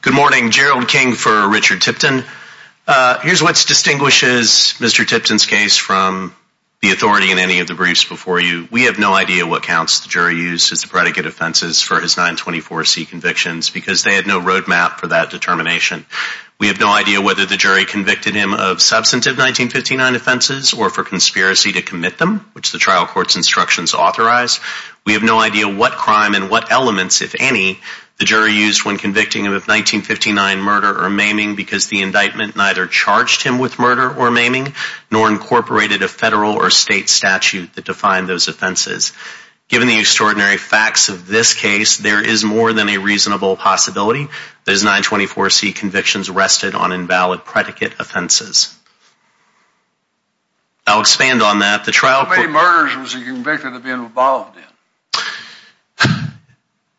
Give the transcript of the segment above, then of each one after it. Good morning, Gerald King for Richard Tipton. Here's what distinguishes Mr. Tipton's case from the authority in any of the briefs before you. We have no idea what counts the jury used as the predicate offenses for his 924C convictions because they had no road map for that determination. We have no idea whether the jury convicted him of substantive 1959 offenses or for conspiracy to commit them, which the trial court's instructions authorize. We have no idea what crime and what elements, if any, the jury used when convicting him of 1959 murder or maiming because the indictment neither charged him with murder or maiming nor incorporated a federal or state statute that defined those offenses. Given the extraordinary facts of this case, there is more than a reasonable possibility that his 924C convictions rested on invalid predicate offenses. I'll expand on that. The trial court... How many murders was he convicted of being involved in?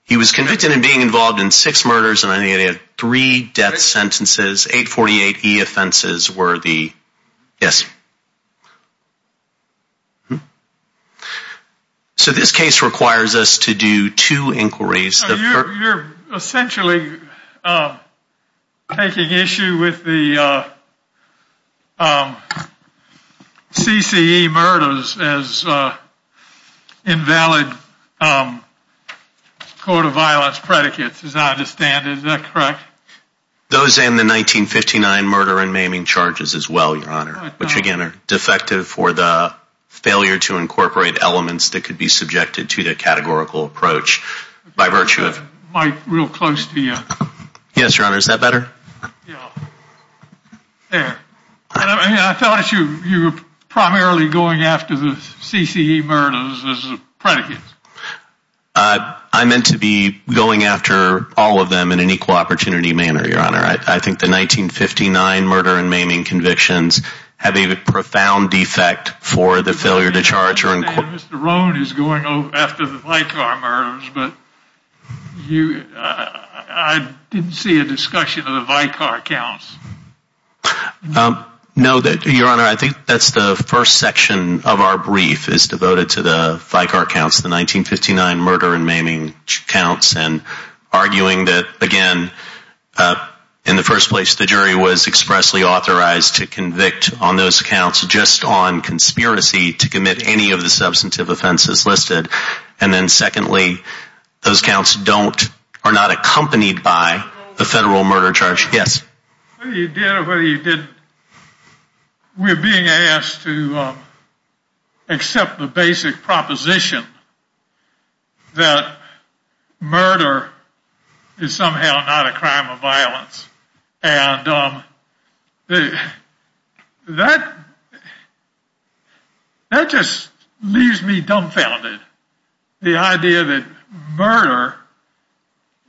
He was convicted of being involved in six murders and only had three death sentences. 848E offenses were the... Yes. So this case requires us to do two inquiries. You're essentially taking issue with the CCE murders as invalid code of violence predicates, as I understand. Is that correct? Those and the 1959 murder and maiming charges as well, Your Honor, which again are defective for the failure to incorporate elements that could be subjected to the categorical approach by virtue of... Mike, real close to you. Yes, Your Honor. Is that better? Yeah. There. I thought you were primarily going after the CCE murders as predicates. I meant to be going after all of them in an equal opportunity manner, Your Honor. I think the 1959 murder and maiming convictions have a profound defect for the failure to charge... Mr. Rohn is going after the Vicar murders, but I didn't see a discussion of the Vicar counts. No, Your Honor. I think that's the first section of our brief is devoted to the Vicar counts, the 1959 murder and maiming counts, and arguing that, again, in the first place, the jury was expressly authorized to convict on those counts just on conspiracy to commit any of the substantive offenses listed. And then secondly, those counts are not accompanied by the federal murder charge. Yes. Whether you did or whether you didn't, we're being asked to accept the basic proposition and that just leaves me dumbfounded. The idea that murder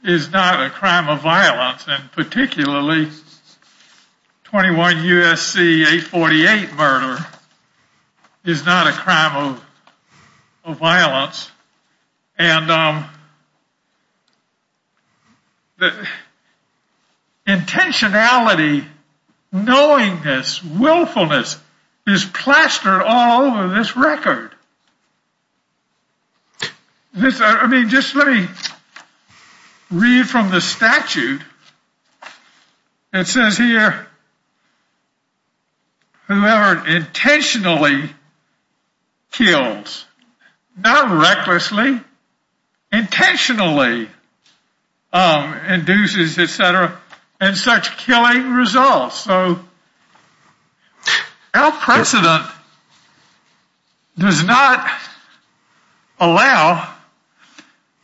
is not a crime of violence, and particularly 21 U.S.C. 848 murder is not a crime of violence. And the intentionality, knowingness, willfulness is plastered all over this record. I mean, just let me read from the statute. It says here, whoever intentionally kills, not recklessly, intentionally induces, etc., and such killing results. Our precedent does not allow,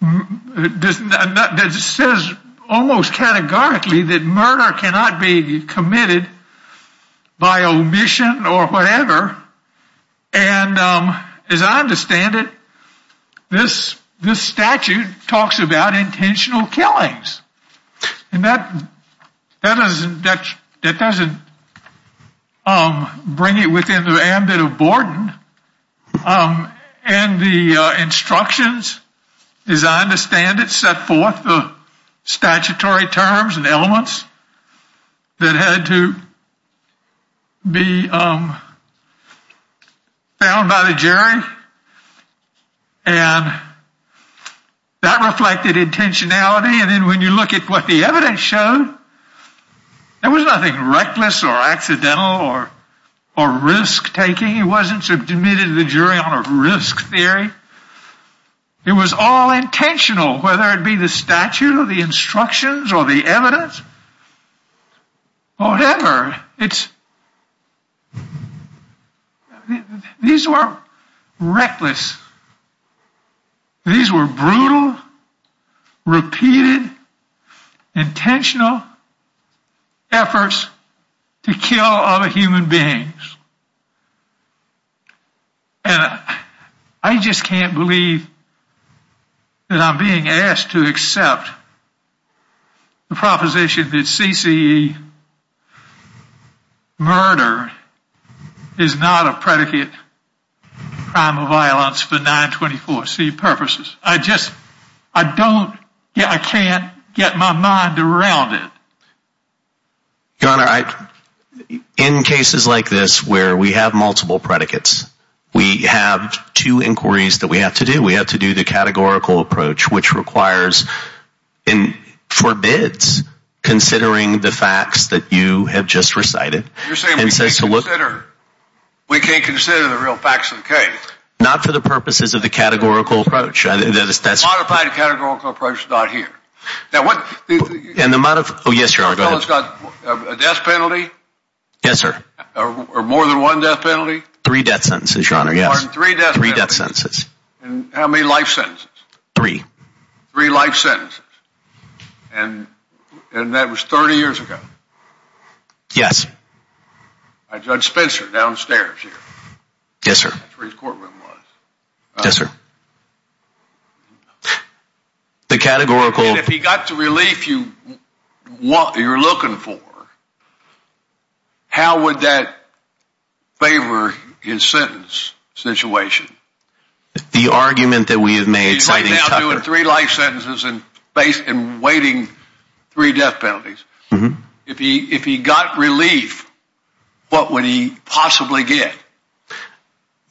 it says almost categorically that murder cannot be committed by omission or whatever, and as I understand it, this statute talks about intentional killings. And that doesn't bring it within the ambit of Borden, and the instructions designed to stand it set forth the statutory terms and elements that had to be found by the jury, and that reflected intentionality. And then when you look at what the evidence showed, there was nothing reckless or accidental or risk-taking. It wasn't submitted to the jury on a risk theory. It was all intentional, whether it be the statute or the instructions or the evidence, whatever. It's, these were reckless. These were brutal, repeated, intentional efforts to kill other human beings. And I just can't believe that I'm being asked to accept the proposition that CCE murder is not a predicate crime of violence for 924C purposes. I just, I don't, I can't get my mind around it. Your Honor, in cases like this where we have multiple predicates, we have two inquiries that we have to do. We have to do the categorical approach, which requires, and forbids, considering the facts that you have just recited. You're saying we can't consider the real facts of the case? Not for the purposes of the categorical approach. The modified categorical approach is not here. And the amount of, oh yes, Your Honor, go ahead. A felon's got a death penalty? Yes, sir. Or more than one death penalty? Three death sentences, Your Honor, yes. Pardon, three death sentences? Three death sentences. And how many life sentences? Three. Three life sentences. And that was 30 years ago? Yes. Judge Spencer downstairs here? Yes, sir. That's where his courtroom was. Yes, sir. The categorical. And if he got the relief you're looking for, how would that favor his sentence situation? The argument that we have made citing Tucker. He's right now doing three life sentences and waiting three death penalties. If he got relief, what would he possibly get?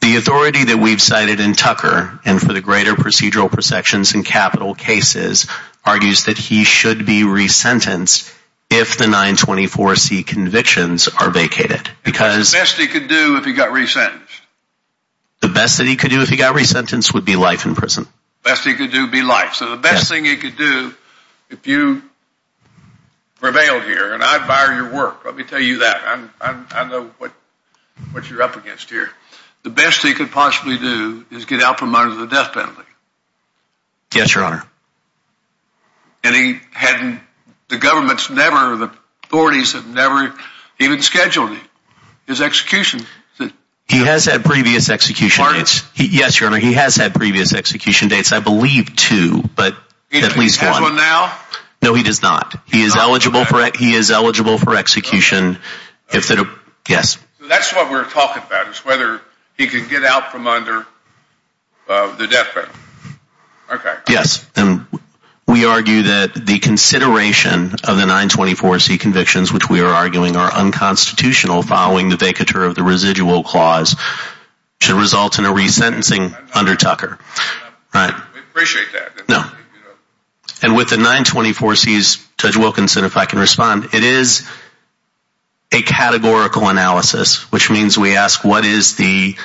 The authority that we've cited in Tucker, and for the greater procedural perceptions in capital cases, argues that he should be re-sentenced if the 924C convictions are vacated. Because the best he could do if he got re-sentenced? The best that he could do if he got re-sentenced would be life in prison. The best he could do would be life. So the best thing he could do if you prevailed here, and I admire your work, let me tell you that. I know what you're up against here. The best he could possibly do is get out from under the death penalty. Yes, your honor. And he hadn't, the government's never, the authorities have never even scheduled his execution. He has had previous execution dates. Pardon? Yes, your honor, he has had previous execution dates. I believe two, but at least one. He has one now? No, he does not. He is eligible for execution if the, yes. So that's what we're talking about, is whether he can get out from under the death penalty. Okay. Yes, and we argue that the consideration of the 924C convictions, which we are arguing are unconstitutional following the vacature of the residual clause, should result in a re-sentencing under Tucker. I appreciate that. No. And with the 924Cs, Judge Wilkinson, if I can respond, it is a categorical analysis, which means we ask what is the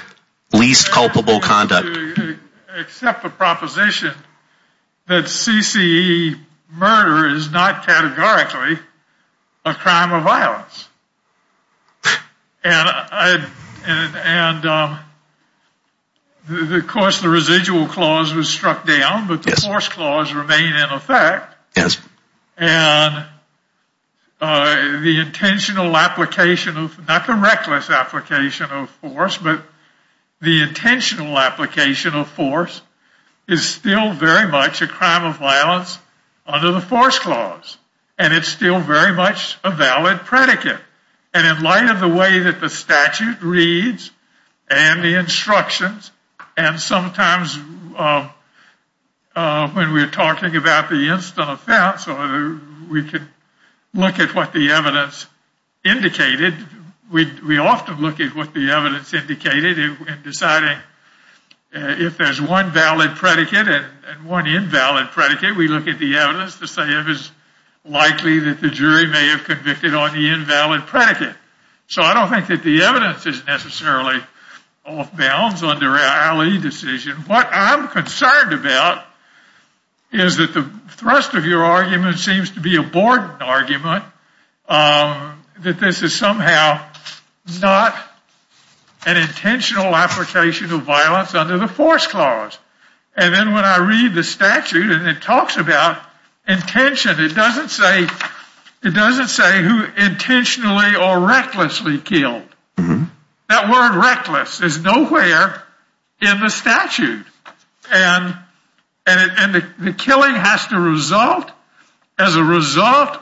least culpable conduct. Except the proposition that CCE murder is not categorically a crime of violence. And, of course, the residual clause was struck down, but the force clause remained in effect. Yes. And the intentional application of, not the reckless application of force, but the intentional application of force is still very much a crime of violence under the force clause. And it's still very much a valid predicate. And in light of the way that the statute reads and the instructions, and sometimes when we're talking about the instant offense, or we could look at what the evidence indicated, we often look at what the evidence indicated in deciding if there's one valid predicate and one invalid predicate. We look at the evidence to say if it's likely that the jury may have convicted on the invalid predicate. So I don't think that the evidence is necessarily off-bounds under an alley decision. What I'm concerned about is that the thrust of your argument seems to be a board argument, that this is somehow not an intentional application of violence under the force clause. And then when I read the statute and it talks about intention, it doesn't say who intentionally or recklessly killed. That word reckless is nowhere in the statute. And the killing has to result as a result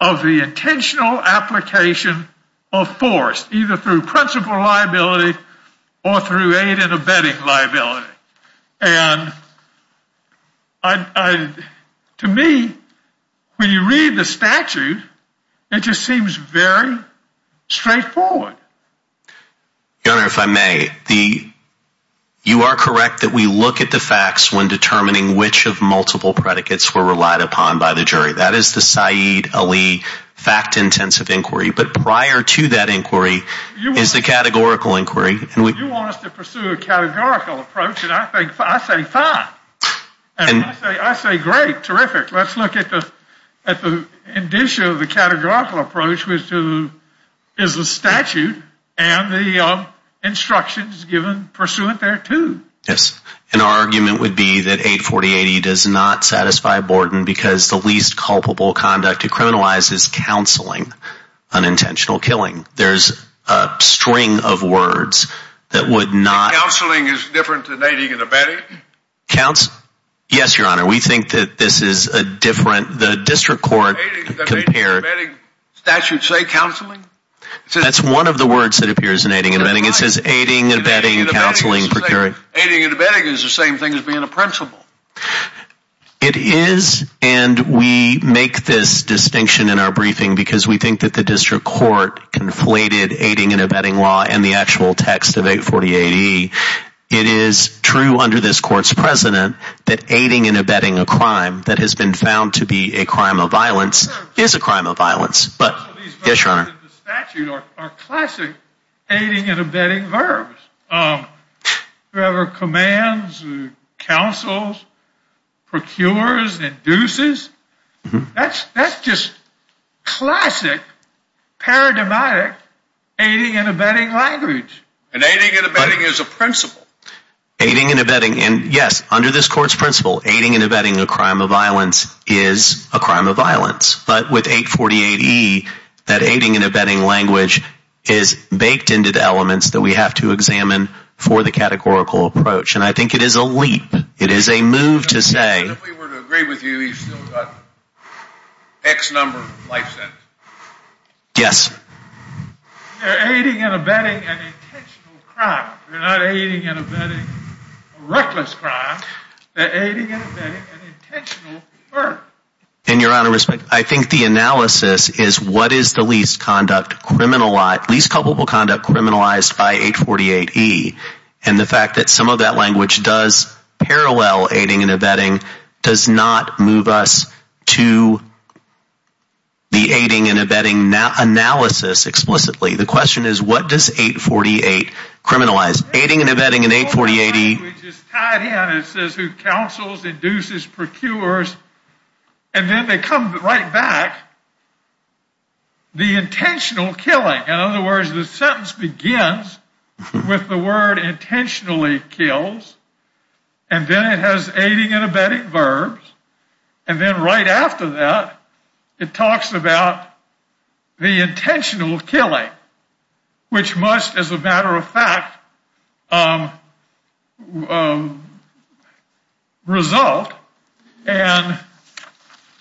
of the intentional application of force, either through principal liability or through aid and abetting liability. And to me, when you read the statute, it just seems very straightforward. Your Honor, if I may, you are correct that we look at the facts when determining which of multiple predicates were relied upon by the jury. That is the Saeed Ali fact-intensive inquiry. But prior to that inquiry is the categorical inquiry. You want us to pursue a categorical approach, and I say fine. I say great, terrific. Let's look at the indicia of the categorical approach, which is the statute, and the instructions given pursuant thereto. Yes. And our argument would be that 84080 does not satisfy Borden because the least culpable conduct to criminalize is counseling unintentional killing. There's a string of words that would not – Counseling is different than aiding and abetting? Yes, Your Honor. We think that this is a different – the district court compared – Aiding and abetting statutes say counseling? That's one of the words that appears in aiding and abetting. It says aiding, abetting, counseling, procuring. Aiding and abetting is the same thing as being a principal. It is, and we make this distinction in our briefing because we think that the district court conflated aiding and abetting law and the actual text of 84080. It is true under this court's precedent that aiding and abetting a crime that has been found to be a crime of violence is a crime of violence. Yes, Your Honor. The statute are classic aiding and abetting verbs. Whoever commands, counsels, procures, and induces. That's just classic paradigmatic aiding and abetting language. And aiding and abetting is a principal. Aiding and abetting – and yes, under this court's principle, aiding and abetting a crime of violence is a crime of violence. But with 84080, that aiding and abetting language is baked into the elements that we have to examine for the categorical approach. And I think it is a leap. It is a move to say – If we were to agree with you, you've still got X number of life sentences. Yes. They're aiding and abetting an intentional crime. They're not aiding and abetting a reckless crime. They're aiding and abetting an intentional verb. And, Your Honor, I think the analysis is what is the least conduct criminalized – And the fact that some of that language does parallel aiding and abetting does not move us to the aiding and abetting analysis explicitly. The question is what does 84080 criminalize? Aiding and abetting in 84080 – We just tie it in. It says who counsels, induces, procures. And then they come right back. The intentional killing. In other words, the sentence begins with the word intentionally kills. And then it has aiding and abetting verbs. And then right after that, it talks about the intentional killing, which must, as a matter of fact, result. And,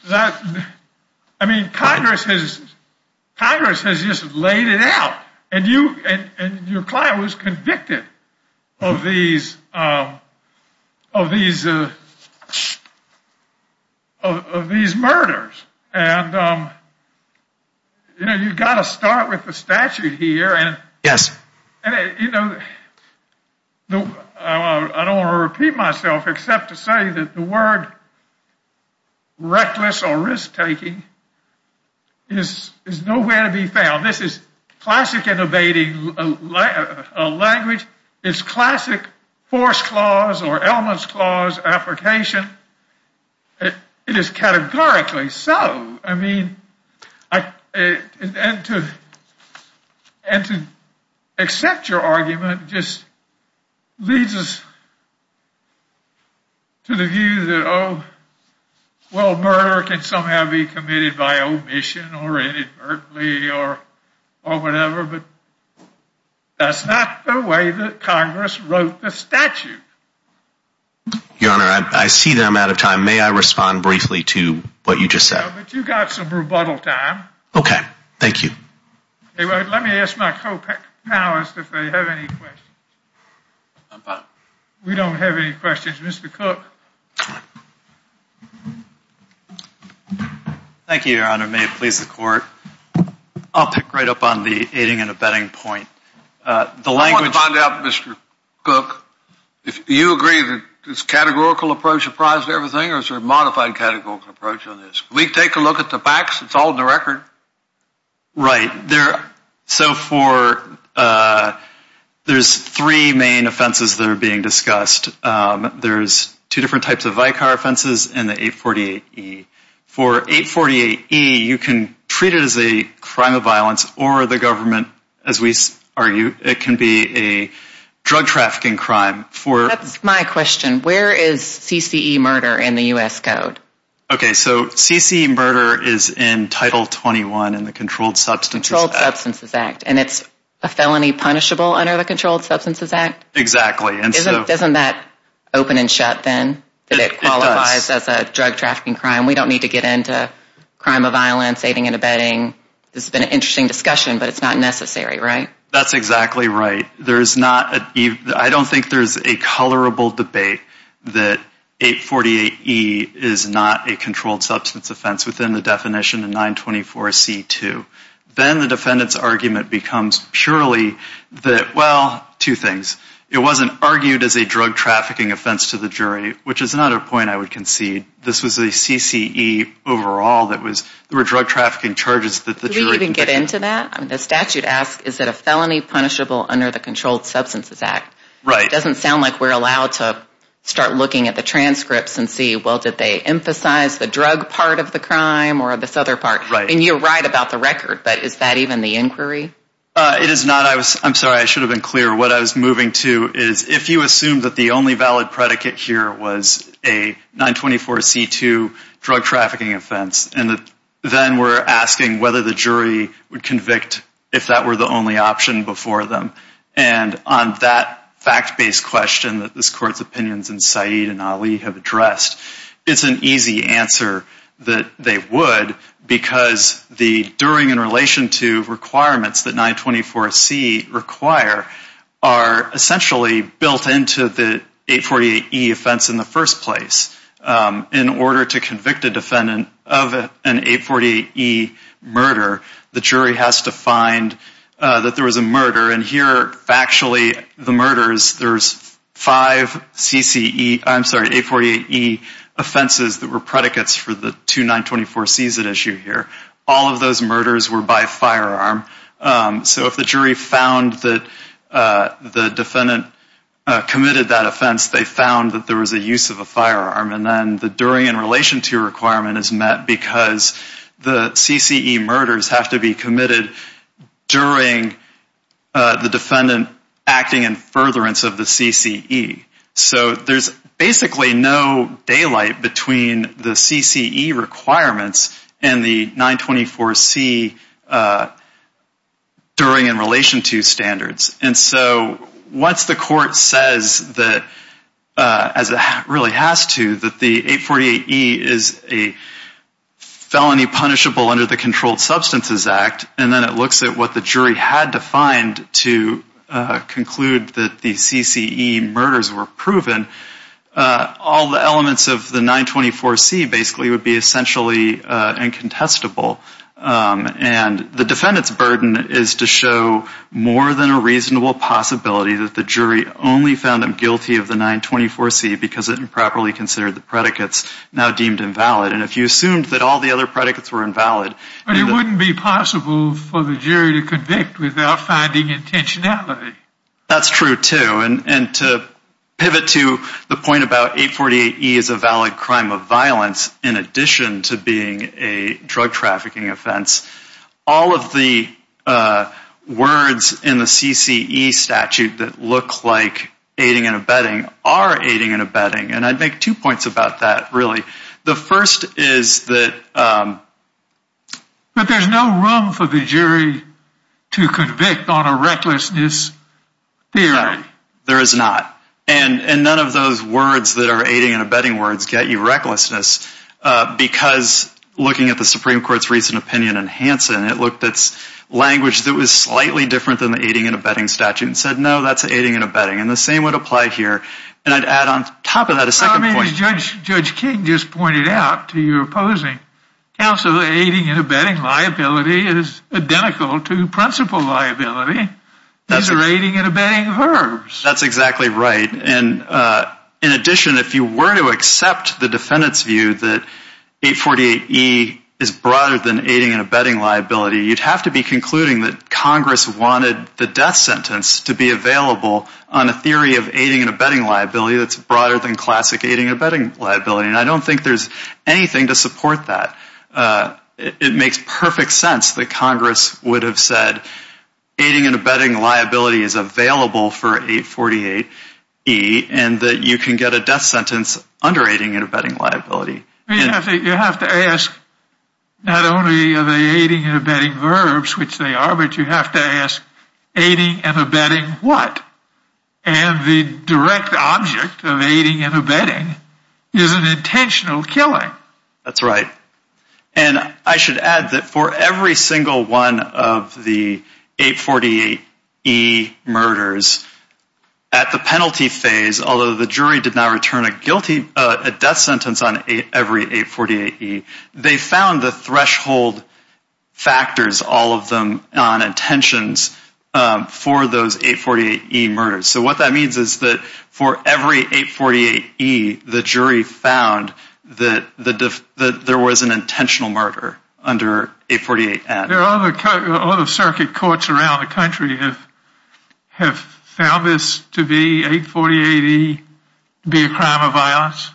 I mean, Congress has just laid it out. And your client was convicted of these murders. And, you know, you've got to start with the statute here. Yes. You know, I don't want to repeat myself except to say that the word reckless or risk-taking is nowhere to be found. This is classic abetting language. It's classic force clause or elements clause application. It is categorically so. And to accept your argument just leads us to the view that, oh, well, murder can somehow be committed by omission or inadvertently or whatever. But that's not the way that Congress wrote the statute. Your Honor, I see that I'm out of time. May I respond briefly to what you just said? No, but you've got some rebuttal time. Okay. Thank you. Let me ask my co-panelists if they have any questions. We don't have any questions. Mr. Cook. Thank you, Your Honor. May it please the Court. I'll pick right up on the aiding and abetting point. I want to find out, Mr. Cook, do you agree that it's a categorical approach apprised of everything or is there a modified categorical approach on this? Can we take a look at the facts? It's all in the record. Right. So there's three main offenses that are being discussed. There's two different types of VICAR offenses and the 848E. For 848E, you can treat it as a crime of violence or the government, as we argue, it can be a drug trafficking crime. That's my question. Where is CCE murder in the U.S. Code? Okay, so CCE murder is in Title 21 in the Controlled Substances Act. Controlled Substances Act, and it's a felony punishable under the Controlled Substances Act? Exactly. Isn't that open and shut then that it qualifies as a drug trafficking crime? It does. We don't need to get into crime of violence, aiding and abetting. This has been an interesting discussion, but it's not necessary, right? That's exactly right. I don't think there's a colorable debate that 848E is not a controlled substance offense within the definition of 924C2. Then the defendant's argument becomes purely that, well, two things. It wasn't argued as a drug trafficking offense to the jury, which is another point I would concede. This was a CCE overall that was drug trafficking charges that the jury The statute asks, is it a felony punishable under the Controlled Substances Act? Right. It doesn't sound like we're allowed to start looking at the transcripts and see, well, did they emphasize the drug part of the crime or this other part? Right. And you're right about the record, but is that even the inquiry? It is not. I'm sorry. I should have been clear. What I was moving to is if you assume that the only valid predicate here was a 924C2 drug trafficking offense, and then we're asking whether the jury would convict if that were the only option before them, and on that fact-based question that this Court's opinions and Saeed and Ali have addressed, it's an easy answer that they would because the during in relation to requirements that 924C require are essentially built into the 848E offense in the first place. In order to convict a defendant of an 848E murder, the jury has to find that there was a murder. And here, factually, the murders, there's five 848E offenses that were predicates for the 2924C's at issue here. All of those murders were by firearm. So if the jury found that the defendant committed that offense, they found that there was a use of a firearm, and then the during in relation to requirement is met because the CCE murders have to be committed during the defendant acting in furtherance of the CCE. So there's basically no daylight between the CCE requirements and the 924C during in relation to standards. And so once the Court says that, as it really has to, that the 848E is a felony punishable under the Controlled Substances Act, and then it looks at what the jury had to find to conclude that the CCE murders were proven, all the elements of the 924C basically would be essentially incontestable. And the defendant's burden is to show more than a reasonable possibility that the jury only found them guilty of the 924C because it improperly considered the predicates now deemed invalid. And if you assumed that all the other predicates were invalid... But it wouldn't be possible for the jury to convict without finding intentionality. That's true, too. And to pivot to the point about 848E is a valid crime of violence in addition to being a drug trafficking offense. All of the words in the CCE statute that look like aiding and abetting are aiding and abetting, and I'd make two points about that, really. The first is that... But there's no room for the jury to convict on a recklessness theory. There is not. And none of those words that are aiding and abetting words get you recklessness because looking at the Supreme Court's recent opinion in Hansen, it looked at language that was slightly different than the aiding and abetting statute and said, no, that's aiding and abetting, and the same would apply here. And I'd add on top of that a second point. I mean, Judge King just pointed out to your opposing counsel that aiding and abetting liability is identical to principal liability. These are aiding and abetting verbs. That's exactly right. And in addition, if you were to accept the defendant's view that 848E is broader than aiding and abetting liability, you'd have to be concluding that Congress wanted the death sentence to be available on a theory of aiding and abetting liability that's broader than classic aiding and abetting liability, and I don't think there's anything to support that. It makes perfect sense that Congress would have said aiding and abetting liability is available for 848E and that you can get a death sentence under aiding and abetting liability. You have to ask not only are they aiding and abetting verbs, which they are, but you have to ask aiding and abetting what? And the direct object of aiding and abetting is an intentional killing. That's right. And I should add that for every single one of the 848E murders, at the penalty phase, although the jury did not return a death sentence on every 848E, they found the threshold factors, all of them on intentions for those 848E murders. So what that means is that for every 848E, the jury found that there was an intentional murder under 848N. Are there other circuit courts around the country that have found this to be, 848E, to be a crime of violence?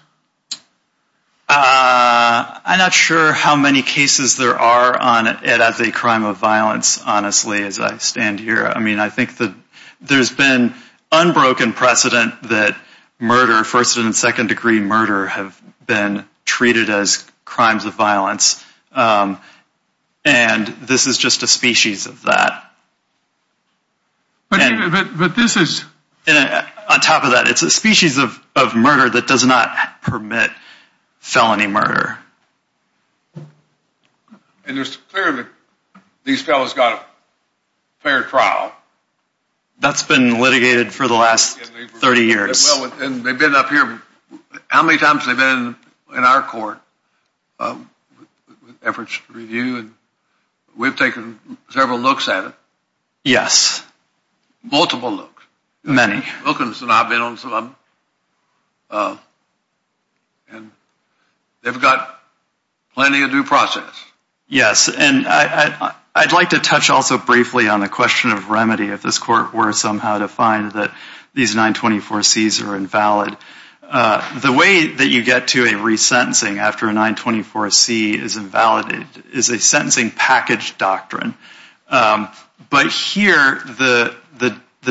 I'm not sure how many cases there are on it as a crime of violence, honestly, as I stand here. I mean, I think that there's been unbroken precedent that murder, first and second degree murder, have been treated as crimes of violence, and this is just a species of that. On top of that, it's a species of murder that does not permit felony murder. And it's clear that these fellows got a fair trial. That's been litigated for the last 30 years. Well, and they've been up here, how many times have they been in our court with efforts to review? We've taken several looks at it. Yes. Multiple looks. Many. Wilkins and I have been on some, and they've got plenty of due process. Yes, and I'd like to touch also briefly on the question of remedy, if this court were somehow to find that these 924Cs are invalid. The way that you get to a resentencing after a 924C is invalid is a sentencing package doctrine. But here, the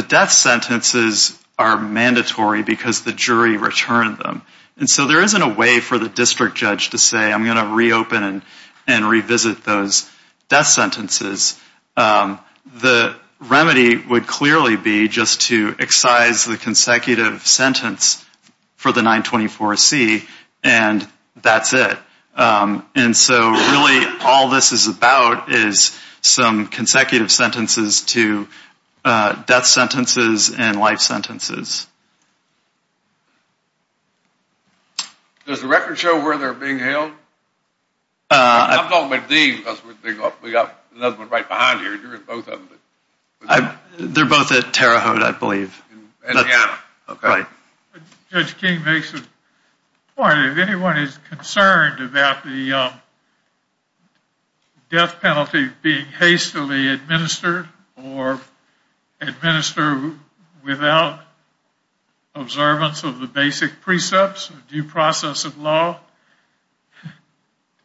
death sentences are mandatory because the jury returned them. And so there isn't a way for the district judge to say, I'm going to reopen and revisit those death sentences. The remedy would clearly be just to excise the consecutive sentence for the 924C, and that's it. And so really all this is about is some consecutive sentences to death sentences and life sentences. Does the record show where they're being held? I'm talking about these because we've got another one right behind you. You're in both of them. They're both at Terre Haute, I believe. Indiana. Okay. Judge King makes a point. If anyone is concerned about the death penalty being hastily administered or administered without observance of the basic precepts of due process of law,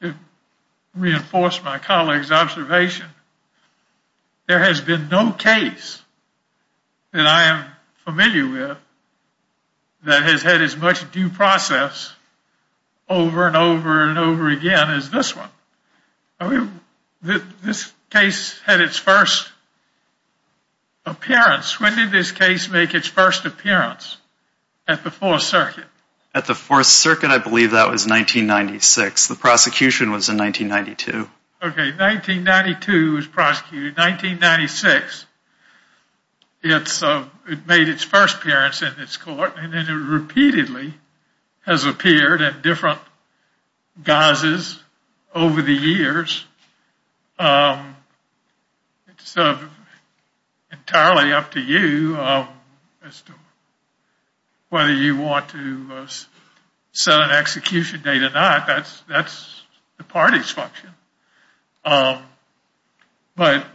to reinforce my colleague's observation, there has been no case that I am familiar with that has had as much due process over and over and over again as this one. This case had its first appearance. When did this case make its first appearance? At the Fourth Circuit. At the Fourth Circuit I believe that was 1996. The prosecution was in 1992. Okay, 1992 it was prosecuted. 1996 it made its first appearance in this court and then it repeatedly has appeared at different guises over the years. Entirely up to you as to whether you want to set an execution date or not. That's the party's function. But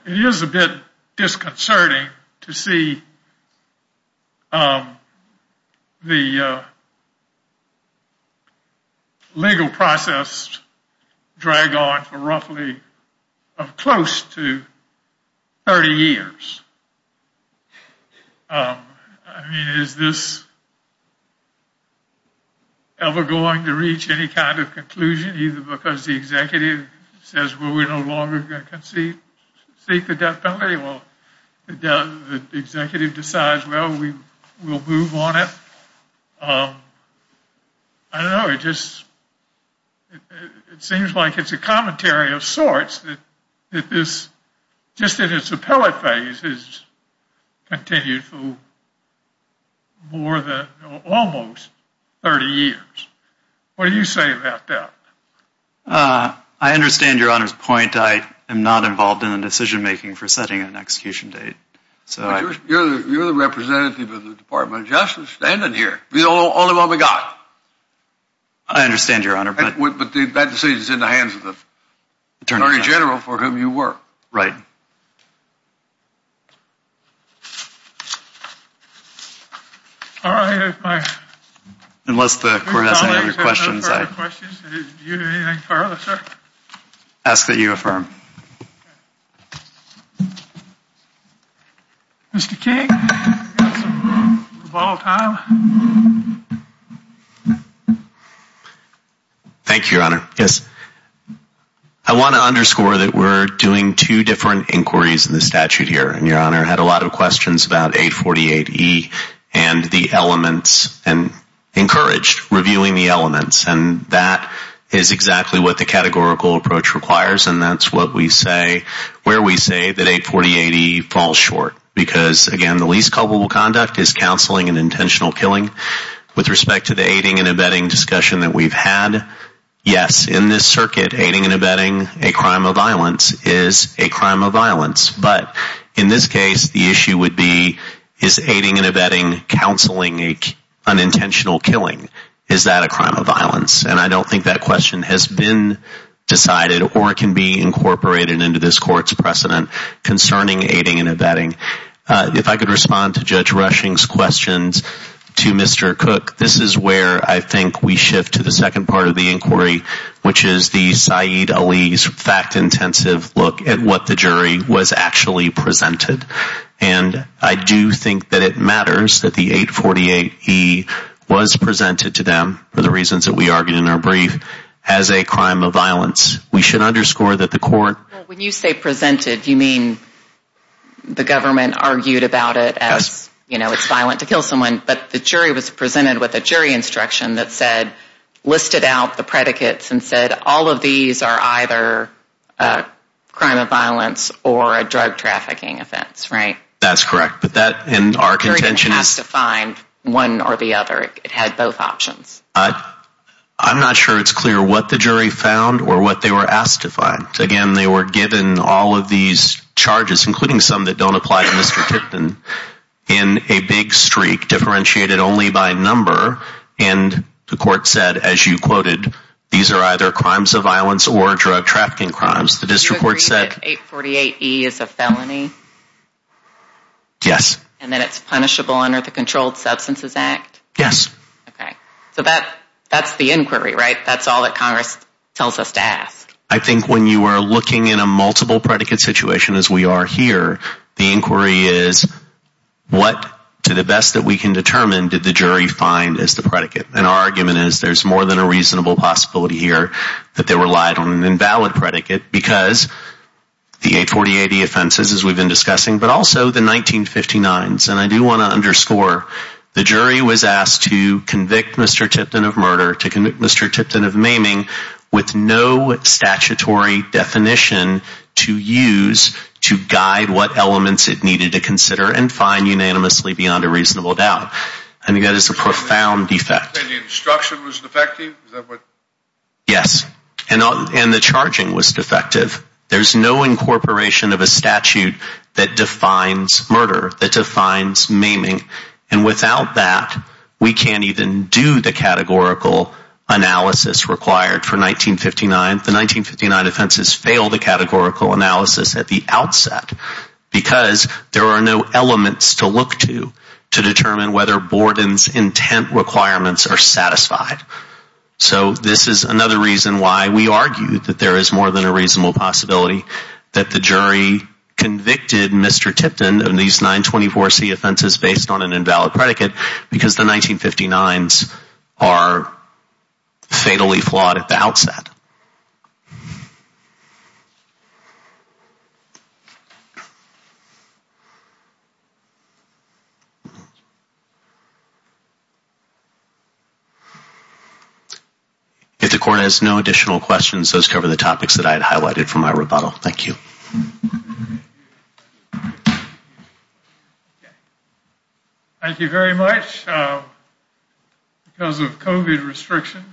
it is a bit disconcerting to see the legal process drag on for roughly close to 30 years. Is this ever going to reach any kind of conclusion either because the executive says we're no longer going to seek the death penalty or the executive decides we'll move on it? I don't know, it seems like it's a commentary of sorts that this, just in its appellate phase, has continued for almost 30 years. What do you say about that? I understand your Honor's point. I am not involved in the decision making for setting an execution date. You're the representative of the Department of Justice standing here. You're the only one we've got. I understand your Honor. But that decision is in the hands of the Attorney General for whom you work. Right. All right. Unless the Court has any other questions, I ask that you affirm. Mr. King, we've got some rebuttal time. Thank you, Your Honor. I want to underscore that we're doing two different inquiries in the statute here. Your Honor had a lot of questions about 848E and the elements and encouraged reviewing the elements. That is exactly what the categorical approach requires and that's where we say that 848E falls short because, again, the least culpable conduct is counseling and intentional killing. With respect to the aiding and abetting discussion that we've had, yes, in this circuit, aiding and abetting a crime of violence is a crime of violence. But in this case, the issue would be, is aiding and abetting counseling unintentional killing? Is that a crime of violence? And I don't think that question has been decided or can be incorporated into this Court's precedent concerning aiding and abetting. If I could respond to Judge Rushing's questions to Mr. Cook, this is where I think we shift to the second part of the inquiry, which is the Saeed Ali's fact-intensive look at what the jury was actually presented. And I do think that it matters that the 848E was presented to them, for the reasons that we argued in our brief, as a crime of violence. We should underscore that the Court... When you say presented, you mean the government argued about it as, you know, it's violent to kill someone. But the jury was presented with a jury instruction that said, listed out the predicates and said, all of these are either a crime of violence or a drug trafficking offense, right? That's correct. And our contention is... The jury didn't have to find one or the other. It had both options. I'm not sure it's clear what the jury found or what they were asked to find. Again, they were given all of these charges, including some that don't apply to Mr. Tipton, in a big streak differentiated only by number. And the Court said, as you quoted, these are either crimes of violence or drug trafficking crimes. The district court said... Do you agree that 848E is a felony? Yes. And that it's punishable under the Controlled Substances Act? Yes. So that's the inquiry, right? That's all that Congress tells us to ask. I think when you are looking in a multiple predicate situation, as we are here, the inquiry is, what, to the best that we can determine, did the jury find as the predicate? And our argument is there's more than a reasonable possibility here that they relied on an invalid predicate because the 848E offenses, as we've been discussing, but also the 1959s. And I do want to underscore, the jury was asked to convict Mr. Tipton of murder, to convict Mr. Tipton of maiming, with no statutory definition to use to guide what elements it needed to consider and find unanimously beyond a reasonable doubt. I think that is a profound defect. And the instruction was defective? Yes. And the charging was defective. There's no incorporation of a statute that defines murder, that defines maiming. And without that, we can't even do the categorical analysis required for 1959. The 1959 offenses fail the categorical analysis at the outset because there are no elements to look to to determine whether Borden's intent requirements are satisfied. So this is another reason why we argue that there is more than a reasonable possibility that the jury convicted Mr. Tipton of these 924C offenses based on an invalid predicate because the 1959s are fatally flawed at the outset. If the court has no additional questions, those cover the topics that I had highlighted for my rebuttal. Thank you. Thank you. Thank you very much. Because of COVID restrictions,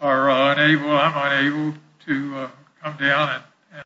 I'm unable to come down.